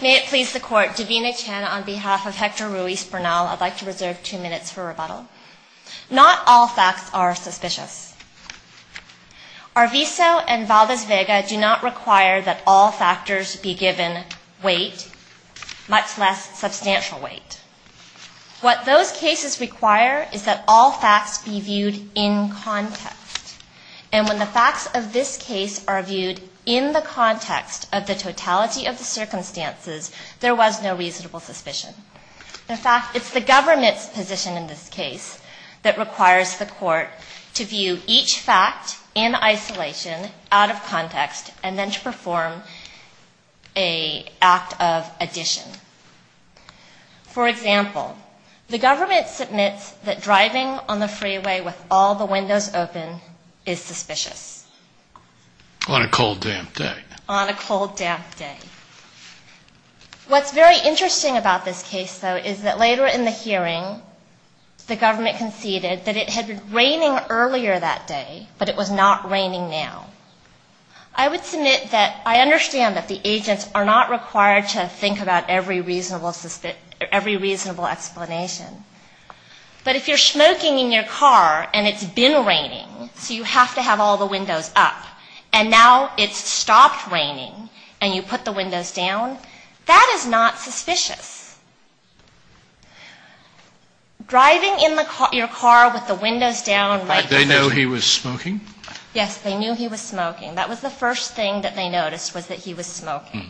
May it please the court, Davina Chan on behalf of Hector Ruiz-Bernal, I'd like to reserve two minutes for rebuttal. Not all facts are suspicious. Arvizo and Valdez-Vega do not require that all factors be given weight, much less substantial weight. What those cases require is that all facts be viewed in context. And when the facts of this case are viewed in the context of the totality of the circumstances, there was no reasonable suspicion. In fact, it's the government's position in this case that requires the court to view each fact in isolation, out of context, and then to perform an act of addition. For example, the government submits that driving on the freeway with all the windows open is suspicious. On a cold, damp day. On a cold, damp day. What's very interesting about this case, though, is that later in the hearing, the government conceded that it had been raining earlier that day, but it was not raining now. I would submit that I understand that the agents are not required to think about every reasonable explanation. But if you're smoking in your car, and it's been raining, so you have to have all the windows up, and now it's stopped raining, and you put the windows down, that is not suspicious. Driving in your car with the windows down right before you... Yes, they knew he was smoking. That was the first thing that they noticed, was that he was smoking.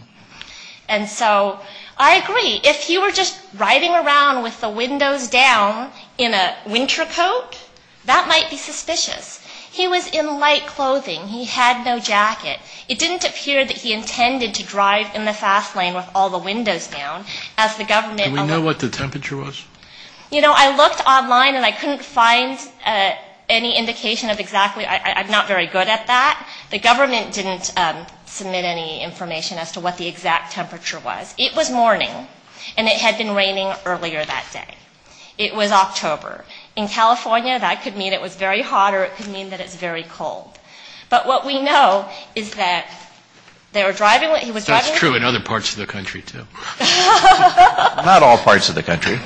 And so I agree. If he were just riding around with the windows down in a winter coat, that might be suspicious. He was in light clothing. He had no jacket. It didn't appear that he intended to drive in the fast lane with all the windows down, as the government... Do we know what the temperature was? You know, I looked online, and I couldn't find any indication of exactly... I'm not very good at that. The government didn't submit any information as to what the exact temperature was. It was morning, and it had been raining earlier that day. It was October. In California, that could mean it was very hot, or it could mean that it's very cold. But what we know is that they were driving... So it's true in other parts of the country, too. Not all parts of the country.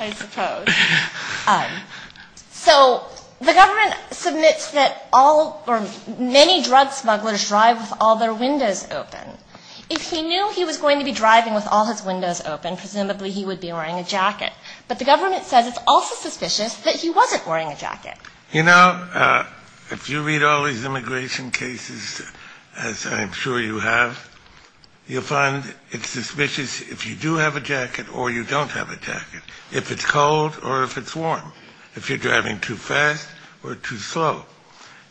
I suppose. So the government submits that many drug smugglers drive with all their windows open. If he knew he was going to be driving with all his windows open, presumably he would be wearing a jacket. But the government says it's also suspicious that he wasn't wearing a jacket. You know, if you read all these immigration cases, as I'm sure you have, you'll find it's suspicious if you do have a jacket or you don't have a jacket, if it's cold or if it's warm, if you're driving too fast or too slow.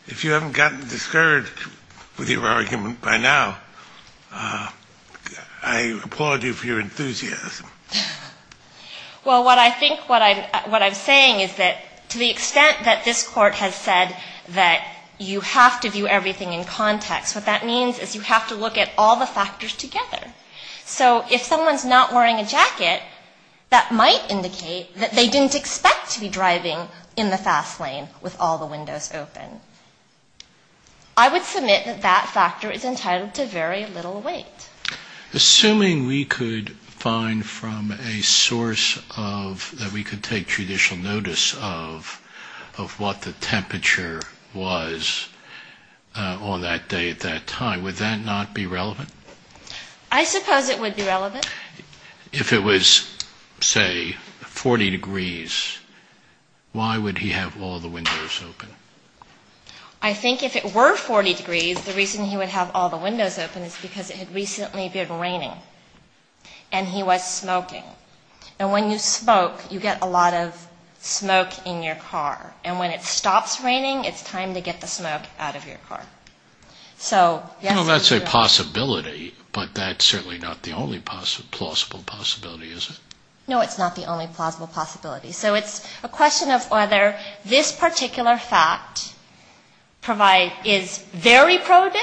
If you haven't gotten discouraged with your argument by now, I applaud you for your enthusiasm. Well, what I think what I'm saying is that to the extent that this Court has said that you have to view everything in context, what that means is you have to look at all the factors together. So if someone's not wearing a jacket, that might indicate that they didn't expect to be driving in the fast lane with all the windows open. I would submit that that factor is entitled to very little weight. Assuming we could find from a source of, that we could take judicial notice of what the temperature was on that day at that time, would that not be relevant? I suppose it would be relevant. If it was, say, 40 degrees, why would he have all the windows open? I think if it were 40 degrees, the reason he would have all the windows open is because it had recently been raining and he was smoking. And when you smoke, you get a lot of smoke in your car. And when it stops raining, it's time to get the smoke out of your car. So yes, it's true. That's a possibility, but that's certainly not the only plausible possibility, is it? No, it's not the only plausible possibility. So it's a question of whether this particular fact is very probative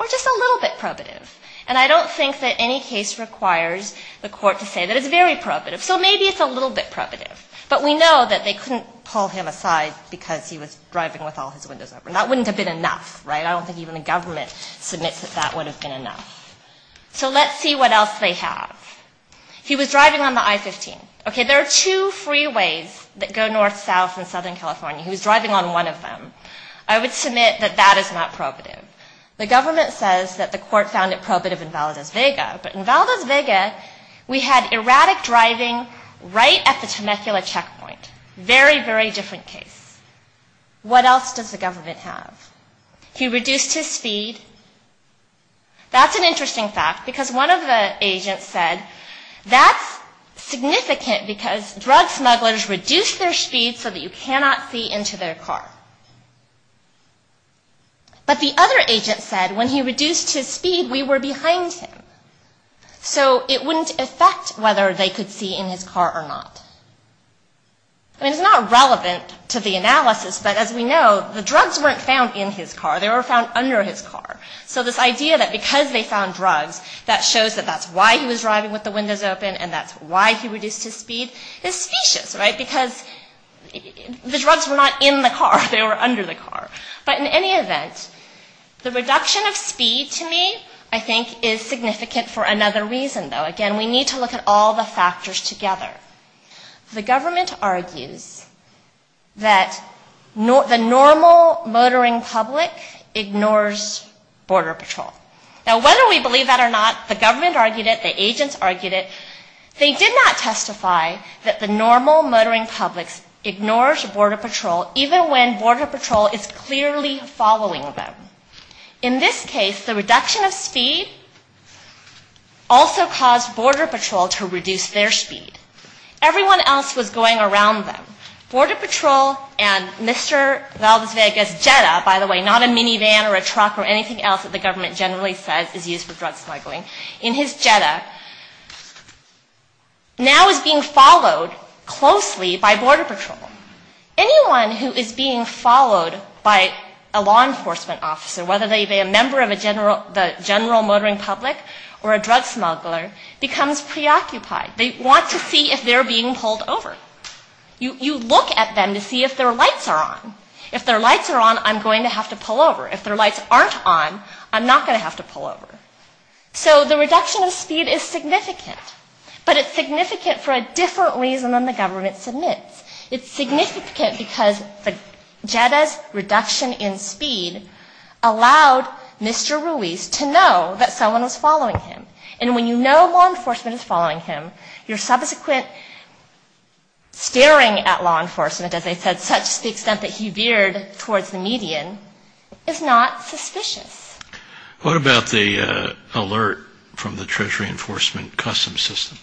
or just a little bit probative. And I don't think that any case requires the court to say that it's very probative. So maybe it's a little bit probative. But we know that they couldn't pull him aside because he was driving with all his windows open. That wouldn't have been enough, right? I don't think even the government submits that that would have been enough. So let's see what else they have. He was driving on the I-15. Okay, there are two freeways that go north, south, and southern California. He was driving on one of them. I would submit that that is not probative. The government says that the court found it probative in Valdez Vega. But in Valdez Vega, we had erratic driving right at the Temecula checkpoint. Very, very different case. What else does the government have? He reduced his speed. That's an interesting fact because one of the agents said that's significant because drug smugglers reduce their speed so that you cannot see into their car. But the other agent said when he reduced his speed, we were behind him. So it wouldn't affect whether they could see in his car or not. I mean, it's not relevant to the analysis, but as we know, the drugs weren't found in his car. They were found under his car. So this idea that because they found drugs, that shows that that's why he was driving with the windows open and that's why he reduced his speed is specious, right? Because the drugs were not in the car. They were under the car. But in any event, the reduction of speed to me, I think, is significant for another reason, though. Again, we need to look at all the factors together. The government argues that the normal motoring public ignores Border Patrol. Now, whether we believe that or not, the government argued it. The agents argued it. They did not testify that the normal motoring public ignores Border Patrol, even when Border Patrol is clearly following them. In this case, the reduction of speed also caused Border Patrol to reduce their speed. Everyone else was going around them. Border Patrol and Mr. Valdesvega's Jetta, by the way, not a minivan or a truck or anything else that the government generally says is used for drug smuggling, in his Jetta, now is being followed closely by Border Patrol. Anyone who is being followed by a law enforcement officer, whether they be a member of the general motoring public or a drug smuggler, becomes preoccupied. They want to see if they're being pulled over. You look at them to see if their lights are on. If their lights are on, I'm going to have to pull over. If their lights aren't on, I'm not going to have to pull over. So the reduction of speed is significant. But it's significant for a different reason than the government submits. It's significant because the Jetta's reduction in speed allowed Mr. Ruiz to know that someone was following him. And when you know law enforcement is following him, your subsequent staring at law enforcement, as I said, such as the extent that he veered towards the median, is not suspicious. What about the alert from the Treasury Enforcement Customs System?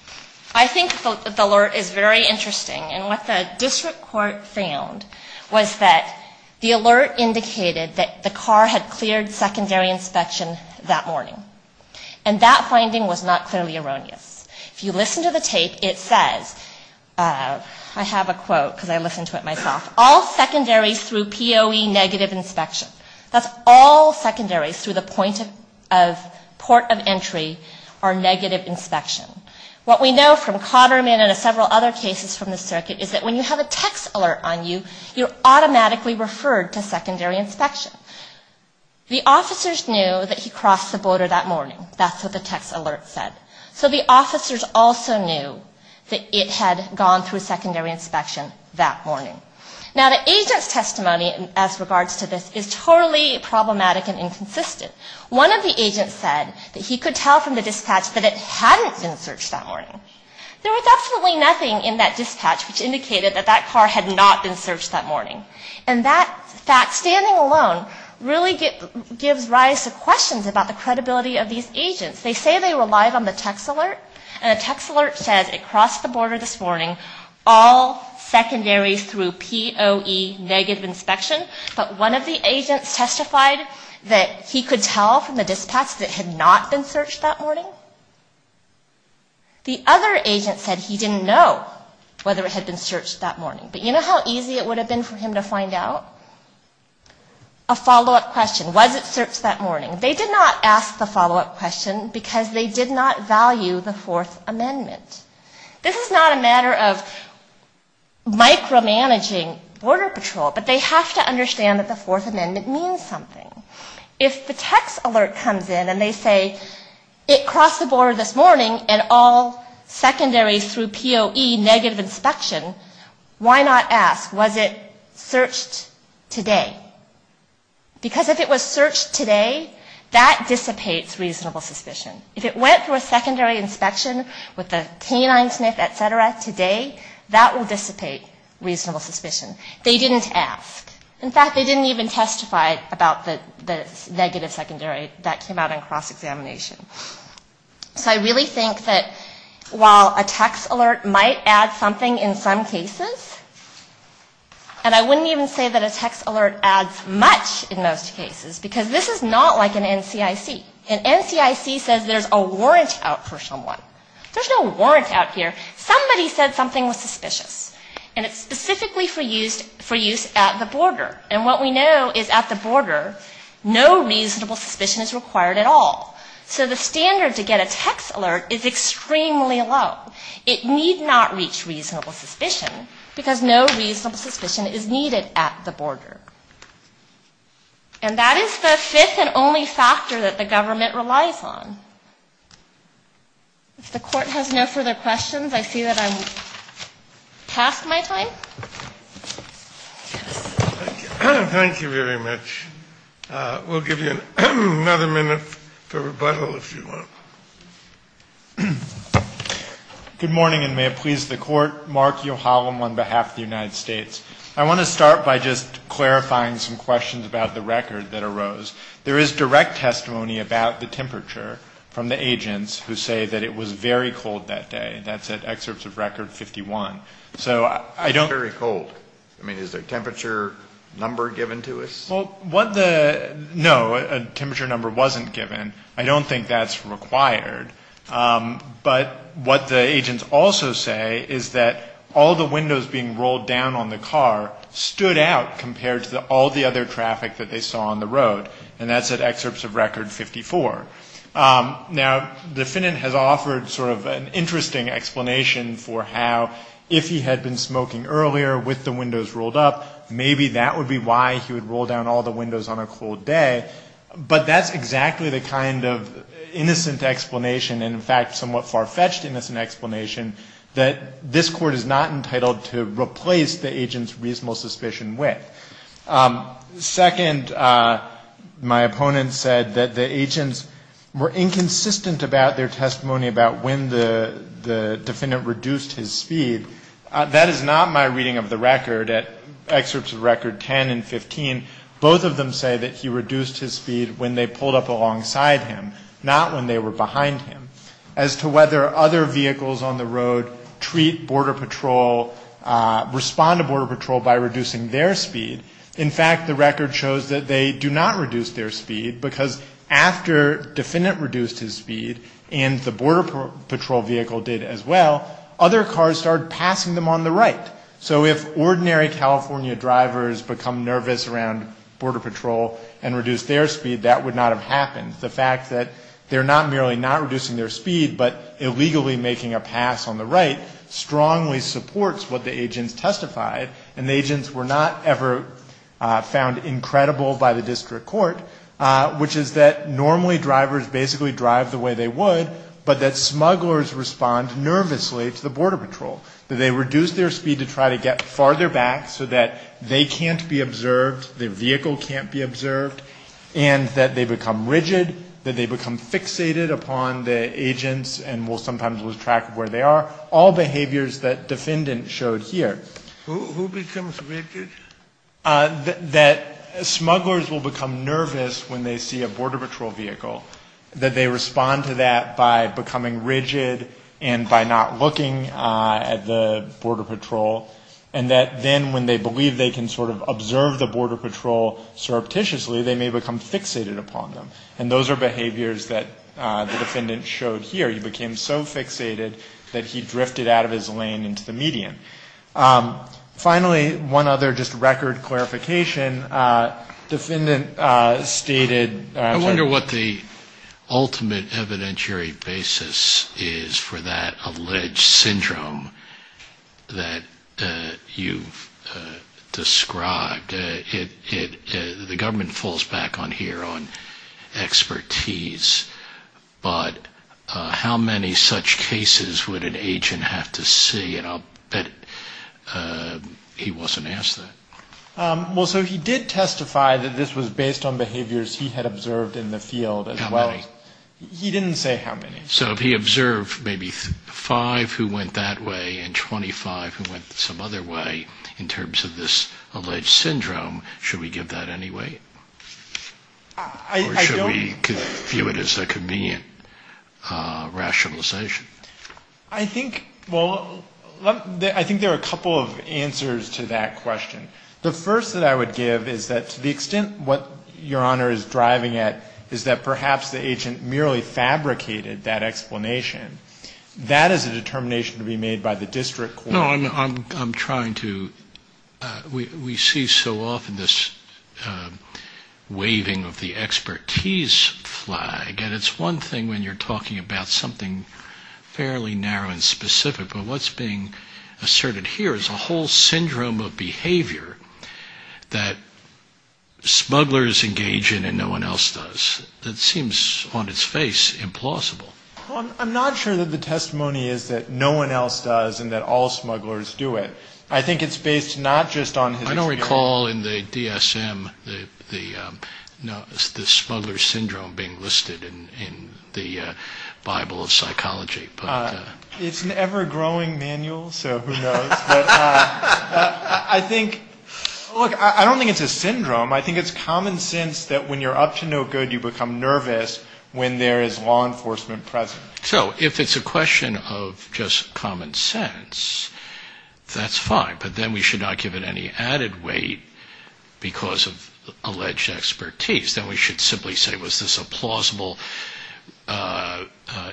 I think the alert is very interesting. And what the district court found was that the alert indicated that the car had cleared secondary inspection that morning. And that finding was not clearly erroneous. If you listen to the tape, it says, I have a quote because I listened to it myself, all secondaries through POE negative inspection. That's all secondaries through the point of port of entry are negative inspection. What we know from Cotterman and several other cases from the circuit is that when you have a text alert on you, you're automatically referred to secondary inspection. The officers knew that he crossed the border that morning. That's what the text alert said. So the officers also knew that it had gone through secondary inspection that morning. Now, the agent's testimony as regards to this is totally problematic and inconsistent. One of the agents said that he could tell from the dispatch that it hadn't been searched that morning. There was absolutely nothing in that dispatch which indicated that that car had not been searched that morning. And that fact, standing alone, really gives rise to questions about the credibility of these agents. They say they relied on the text alert, and the text alert says it crossed the border this morning, all secondaries through POE negative inspection. But one of the agents testified that he could tell from the dispatch that it had not been searched that morning. The other agent said he didn't know whether it had been searched that morning. But you know how easy it would have been for him to find out? A follow-up question, was it searched that morning? They did not ask the follow-up question, because they did not value the Fourth Amendment. This is not a matter of micromanaging Border Patrol, but they have to understand that the Fourth Amendment means something. If the text alert comes in and they say it crossed the border this morning, and all secondaries through POE negative inspection, why not ask, was it searched today? Because if it was searched today, that dissipates reasonable suspicion. If it went through a secondary inspection with a canine sniff, et cetera, today, that will dissipate reasonable suspicion. They didn't ask. In fact, they didn't even testify about the negative secondary that came out in cross-examination. So I really think that while a text alert might add something in some cases, and I wouldn't even say that a text alert adds much in most cases, because this is not like an NCIC. An NCIC says there's a warrant out for someone. There's no warrant out here. Somebody said something was suspicious. And what we know is at the border, no reasonable suspicion is required at all. So the standard to get a text alert is extremely low. It need not reach reasonable suspicion, because no reasonable suspicion is needed at the border. And that is the fifth and only factor that the government relies on. If the court has no further questions, I see that I'm past my time. Thank you very much. We'll give you another minute for rebuttal, if you want. Good morning, and may it please the Court. Mark Yohalam on behalf of the United States. I want to start by just clarifying some questions about the record that arose. There is direct testimony about the temperature from the agents who say that it was very cold that day. That's at excerpts of record 51. It's very cold. I mean, is there a temperature number given to us? Well, what the no, a temperature number wasn't given. I don't think that's required. But what the agents also say is that all the windows being rolled down on the car stood out compared to all the other windows on the road, and that's at excerpts of record 54. Now, the defendant has offered sort of an interesting explanation for how if he had been smoking earlier with the windows rolled up, maybe that would be why he would roll down all the windows on a cold day. But that's exactly the kind of innocent explanation, and in fact somewhat far-fetched innocent explanation, that this Court is not entitled to replace the agent's reasonable suspicion with. Second, my opponent said that the agents were inconsistent about their testimony about when the defendant reduced his speed. That is not my reading of the record. At excerpts of record 10 and 15, both of them say that he reduced his speed when they pulled up alongside him, not when they were behind him. As to whether other vehicles on the road treat Border Patrol, respond to Border Patrol by reducing their speed, in fact, the record shows that they do not reduce their speed, because after the defendant reduced his speed, and the Border Patrol vehicle did as well, other cars started passing them on the right. So if ordinary California drivers become nervous around Border Patrol and reduce their speed, that would not have happened. The fact that they're not merely not reducing their speed but illegally making a pass on the right strongly supports what the agents testified, and the agents were not ever found incredible by the district court, which is that normally drivers basically drive the way they would, but that smugglers respond nervously to the Border Patrol. They reduce their speed to try to get farther back so that they can't be observed, their vehicle can't be observed, and that they become rigid, that they become fixated upon the agents and will sometimes lose track of where they are, all behaviors that defendant showed here. Who becomes rigid? That smugglers will become nervous when they see a Border Patrol vehicle, that they respond to that by becoming rigid and by not looking at the Border Patrol, and that then when they believe they can sort of observe the Border Patrol surreptitiously, they may become fixated upon them. Those are behaviors that the defendant showed here. He became so fixated that he drifted out of his lane into the median. Finally, one other just record clarification. Defendant stated... I wonder what the ultimate evidentiary basis is for that alleged syndrome that you've described. The government falls back on here on expertise, but how many such cases would an agent have to see? And I'll bet he wasn't asked that. Well, so he did testify that this was based on behaviors he had observed in the field as well. How many? He didn't say how many. So if he observed maybe five who went that way and 25 who went some other way in terms of this alleged syndrome, should we give that any weight? Or should we view it as a convenient rationalization? I think there are a couple of answers to that question. The first that I would give is that to the extent what Your Honor is driving at is that perhaps the agent merely fabricated that explanation. That is a determination to be made by the district court. No, I'm trying to we see so often this waving of the expertise flag. And it's one thing when you're talking about something fairly narrow and specific, but what's being asserted here is a whole syndrome of behavior that smugglers engage in and no one else does that seems on its face implausible. I'm not sure that the testimony is that no one else does and that all smugglers do it. I think it's based not just on his experience. I don't recall in the DSM the smuggler syndrome being listed in the Bible of psychology. It's an ever-growing manual, so who knows. I don't think it's a syndrome. I think it's common sense that when you're up to no good, you become nervous when there is law enforcement present. So if it's a question of just common sense, that's fine. But then we should not give it any added weight because of alleged expertise. Then we should simply say was this a plausible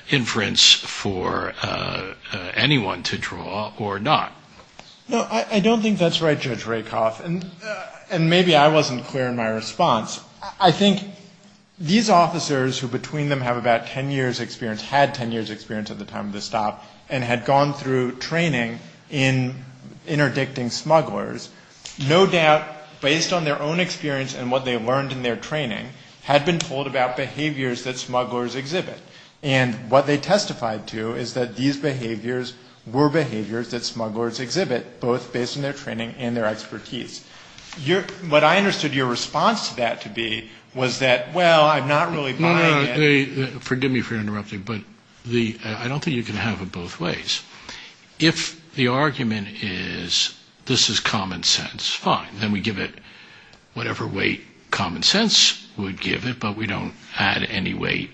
inference for anyone to draw or not? No, I don't think that's right, Judge Rakoff. And maybe I wasn't clear in my response. I think these officers who between them have about 10 years' experience, had 10 years' experience at the time of this stop and had gone through training in interdicting smugglers, no doubt based on their own experience and what they learned in their training had been told about behaviors that smugglers exhibit. And what they testified to is that these behaviors were behaviors that smugglers exhibit, both based on their training and their expertise. What I understood your response to that to be was that, well, I'm not really buying it. Forgive me for interrupting, but I don't think you can have it both ways. If the argument is this is common sense, fine. Then we give it whatever weight common sense would give it, but we don't add any weight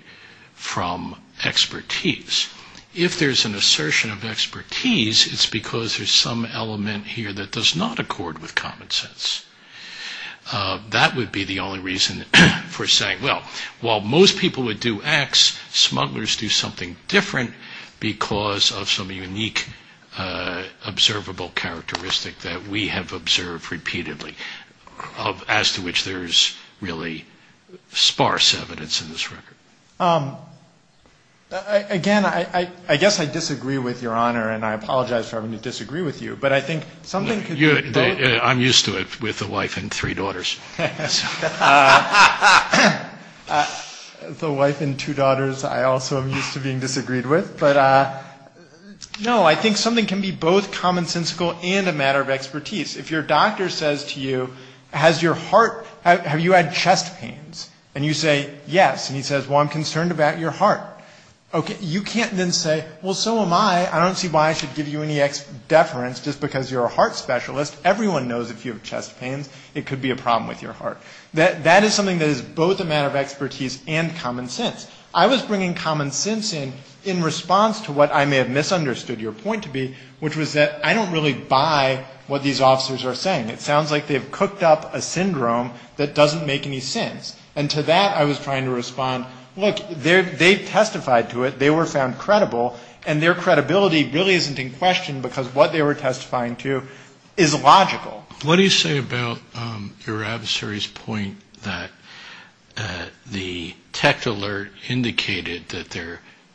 from expertise. If there's an assertion of expertise, it's because there's some element here that does not accord with common sense. That would be the only reason for saying, well, while most people would do X, smugglers do something different because of some unique observable characteristic that we have observed repeatedly, as to which there's really sparse evidence in this record. Again, I guess I disagree with Your Honor, and I apologize for having to disagree with you. But I think something could be both. I'm used to it with a wife and three daughters. The wife and two daughters I also am used to being disagreed with. But no, I think something can be both commonsensical and a matter of expertise. If your doctor says to you, has your heart, have you had chest pains, and you say yes, and he says, well, I'm concerned about your heart, okay, you can't then say, well, so am I. I don't see why I should give you any deference just because you're a heart specialist. Everyone knows if you have chest pains, it could be a problem with your heart. That is something that is both a matter of expertise and common sense. I was bringing common sense in in response to what I may have misunderstood your point to be, which was that I don't really buy what these officers testified to. They were found credible, and their credibility really isn't in question, because what they were testifying to is logical. What do you say about your adversary's point that the tech alert indicated that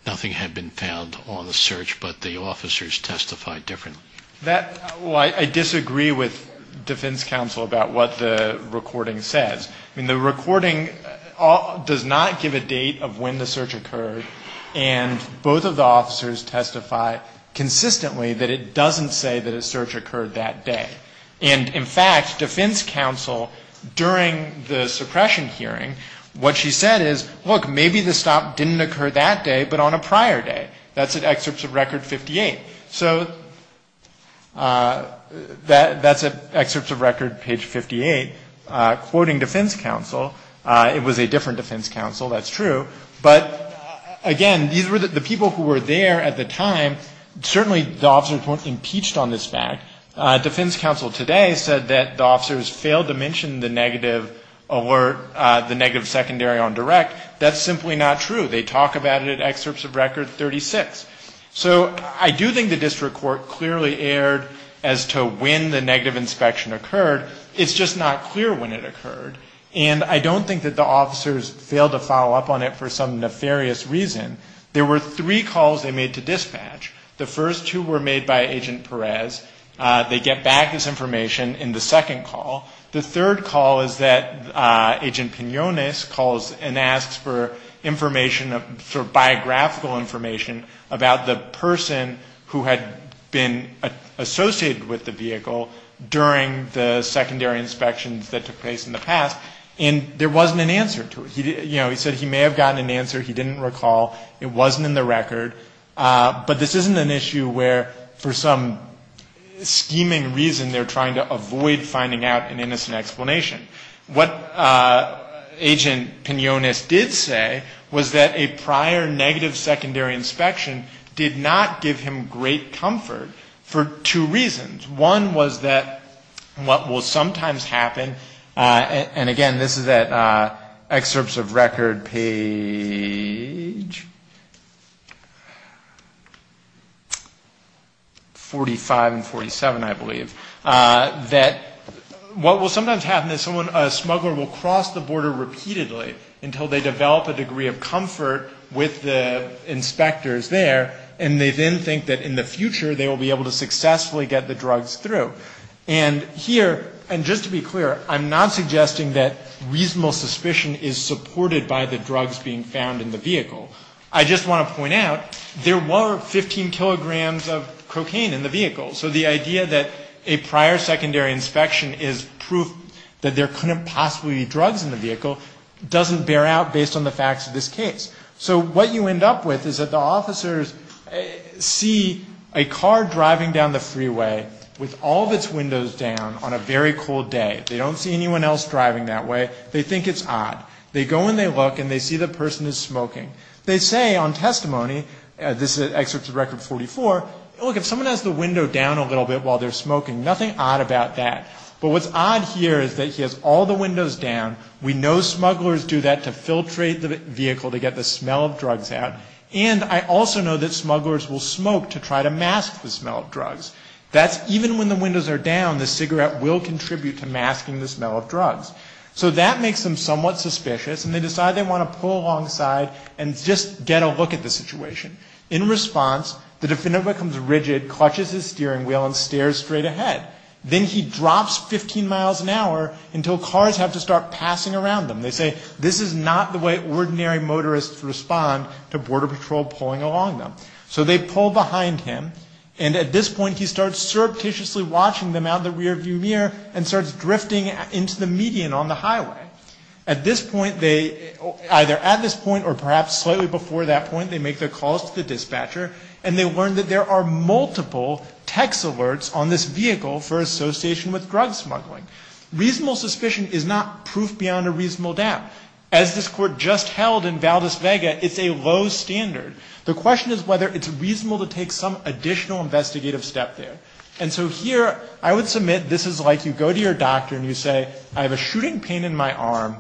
nothing had been found on the search, but the officers testified differently? Well, I disagree with defense counsel about what the recording says. I mean, the recording does not give a date of when the search occurred. And both of the officers testify consistently that it doesn't say that a search occurred that day. And in fact, defense counsel, during the suppression hearing, what she said is, look, maybe the stop didn't occur that day, but on a prior day. That's at excerpts of Record 58. So that's at excerpts of Record page 58, quoting defense counsel. It was a different defense counsel, that's true. But again, the people who were there at the time, certainly the officers weren't impeached on this fact. Defense counsel today said that the officers failed to mention the negative alert, the negative secondary on direct. That's simply not true. They talk about it at excerpts of Record 36. So I do think the district court clearly erred as to when the negative inspection occurred. It's just not clear when it occurred. And I don't think that the officers failed to follow up on it for some nefarious reason. There were three calls they made to dispatch. The first two were made by Agent Perez. They get back this information in the second call. The third call is that Agent Pinones calls and asks for information, for biographical information about the person who had been associated with the vehicle during the secondary inspections that took place in the past. And there wasn't an answer to it. He said he may have gotten an answer. He didn't recall. It wasn't in the record. But this isn't an issue where for some scheming reason they're trying to avoid finding out an innocent explanation. What Agent Pinones did say was that a prior negative secondary inspection did not give him great comfort for two reasons. One was that what will sometimes happen, and again, this is at excerpts of Record page 45 and 47, I believe, that what will sometimes happen is a smuggler will cross the border repeatedly until they develop a degree of comfort with the inspectors there. And they then think that in the future they will be able to successfully get the drugs through. And here, and just to be clear, I'm not suggesting that reasonable suspicion is supported by the drugs being found in the vehicle. I just want to point out there were 15 kilograms of cocaine in the vehicle. So the idea that a prior secondary inspection is proof that there couldn't possibly be drugs in the vehicle doesn't bear out based on the facts of this case. So what you end up with is that the officers see a car driving down the freeway with all of its windows down on a very cold day. They don't see anyone else driving that way. They think it's odd. They go and they look and they see the person is smoking. They say on testimony, this is excerpts of Record 44, look, if someone has the window down a little bit while they're smoking, nothing odd about that. But what's odd here is that he has all the windows down. We know smugglers do that to filtrate the vehicle to get the smell of drugs out. And I also know that smugglers will smoke to try to mask the smell of drugs. That's even when the windows are down, the cigarette will contribute to masking the smell of drugs. So that makes them somewhat suspicious and they decide they want to pull alongside and just get a look at the situation. In response, the defendant becomes rigid, clutches his steering wheel and stares straight ahead. Then he drops 15 miles an hour until cars have to start passing around them. They say this is not the way ordinary motorists respond to Border Patrol pulling along them. So they pull behind him. And at this point he starts surreptitiously watching them out of the rearview mirror and starts drifting into the median on the highway. At this point, either at this point or perhaps slightly before that point, they make their calls to the dispatcher and they learn that there are multiple text alerts on this vehicle for association with drug smuggling. Reasonable suspicion is not proof beyond a reasonable doubt. As this Court just held in Valdez-Vega, it's a low standard. The question is whether it's reasonable to take some additional investigative step there. And so here I would submit this is like you go to your doctor and you say, I have a shooting pain in my arm,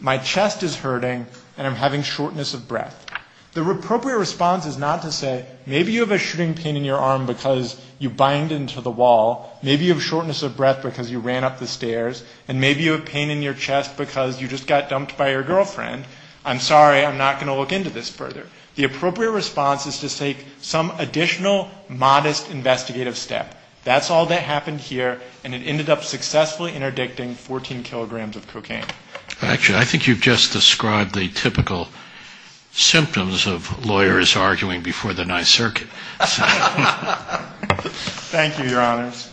my chest is hurting, and I'm having shortness of breath. The appropriate response is not to say, maybe you have a shooting pain in your arm because you bind into the wall. Maybe you have shortness of breath because you ran up the stairs. And maybe you have pain in your chest because you just got dumped by your girlfriend. I'm sorry, I'm not going to look into this further. The appropriate response is to take some additional modest investigative step. That's all that happened here, and it ended up successfully interdicting 14 kilograms of cocaine. Actually, I think you've just described the typical symptoms of lawyers arguing before the ninth circuit. Thank you, Your Honors.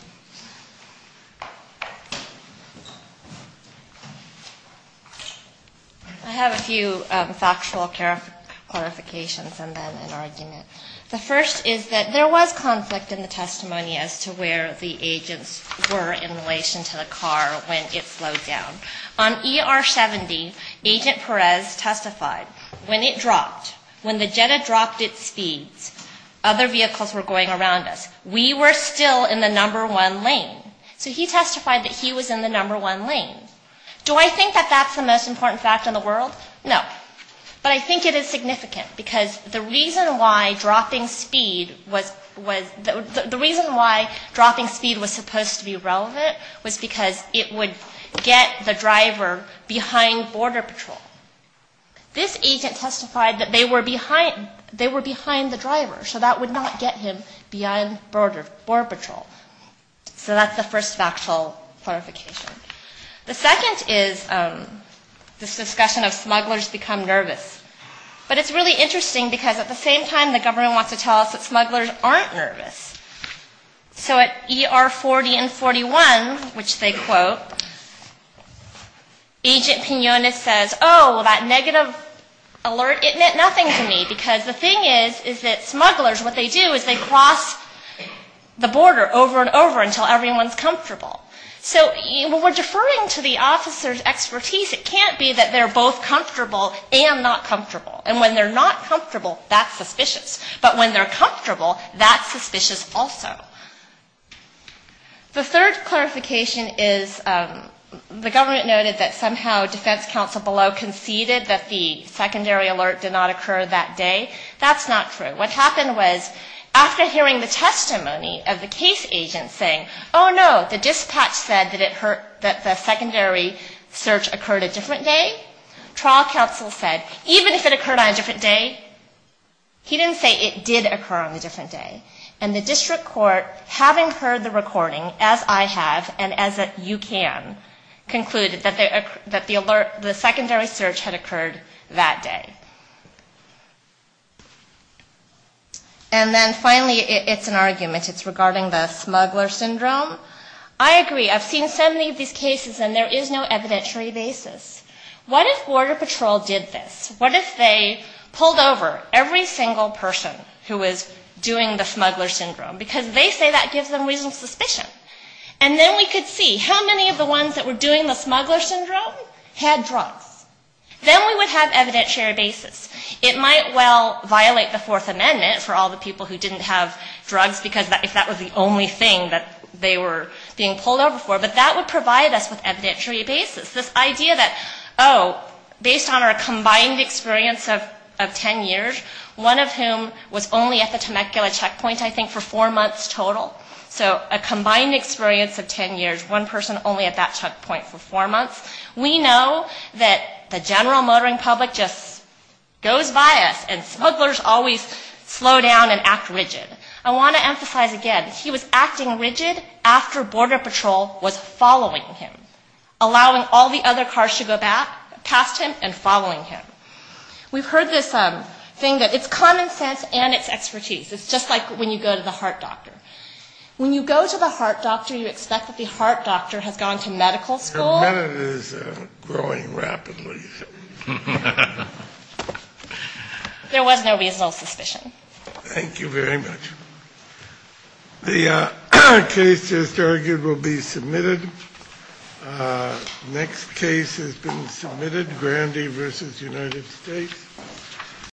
I have a few factual clarifications and then an argument. The first is that there was conflict in the testimony as to where the agents were in relation to the car when it slowed down. On ER 70, Agent Perez testified when it dropped, when the Jetta dropped its speeds, other vehicles were going around us. We were still in the number one lane. So he testified that he was in the number one lane. Do I think that that's the most important fact in the world? No. But I think it is significant, because the reason why dropping speed was supposed to be relevant was because it would get the driver behind Border Patrol. This agent testified that they were behind the driver, so that would not get him behind Border Patrol. So that's the first factual clarification. The second is this discussion of smugglers become nervous. But it's really interesting, because at the same time, the government wants to tell us that smugglers aren't nervous. So at ER 40 and 41, which they quote, Agent Pinones says, oh, well, that negative alert, it meant nothing to me. Because the thing is, is that smugglers, what they do is they cross the border over and over until everyone's comfortable. So when we're deferring to the officer's expertise, it can't be that they're both comfortable and not comfortable. And when they're not comfortable, that's suspicious. But when they're comfortable, that's suspicious also. The third clarification is the government noted that somehow defense counsel below conceded that the secondary alert did not occur that day. That's not true. What happened was after hearing the testimony of the case agent saying, oh, no, the dispatch said that the secondary search occurred a different day, trial counsel said, even if it occurred on a different day, he didn't say it did occur on a different day. And the district court, having heard the recording, as I have and as you can, concluded that the alert, the secondary search had occurred that day. And then finally, it's an argument. It's regarding the smuggler syndrome. I agree. I've seen so many of these cases and there is no evidentiary basis. What if Border Patrol did this? What if they pulled over every single person who was doing the smuggler syndrome? Because they say that gives them reasonable suspicion. And then we could see how many of the ones that were doing the smuggler syndrome had drugs. Then we would have evidentiary basis. It might well violate the Fourth Amendment for all the people who didn't have drugs, because if that was the only thing that they were being pulled over for, but that would provide us with evidentiary basis. This idea that, oh, based on our combined experience of ten years, one of whom was only at the Temecula checkpoint, I think, for four months total. So a combined experience of ten years, one person only at that checkpoint for four months. We know that the general motoring public just goes by us and smugglers always slow down and act rigid. I want to emphasize again, he was acting rigid after Border Patrol was following him. Allowing all the other cars to go past him and following him. We've heard this thing that it's common sense and it's expertise. It's just like when you go to the heart doctor. When you go to the heart doctor, you expect that the heart doctor has gone to medical school. Your method is growing rapidly. There was no reasonable suspicion. Thank you very much. The case just argued will be submitted.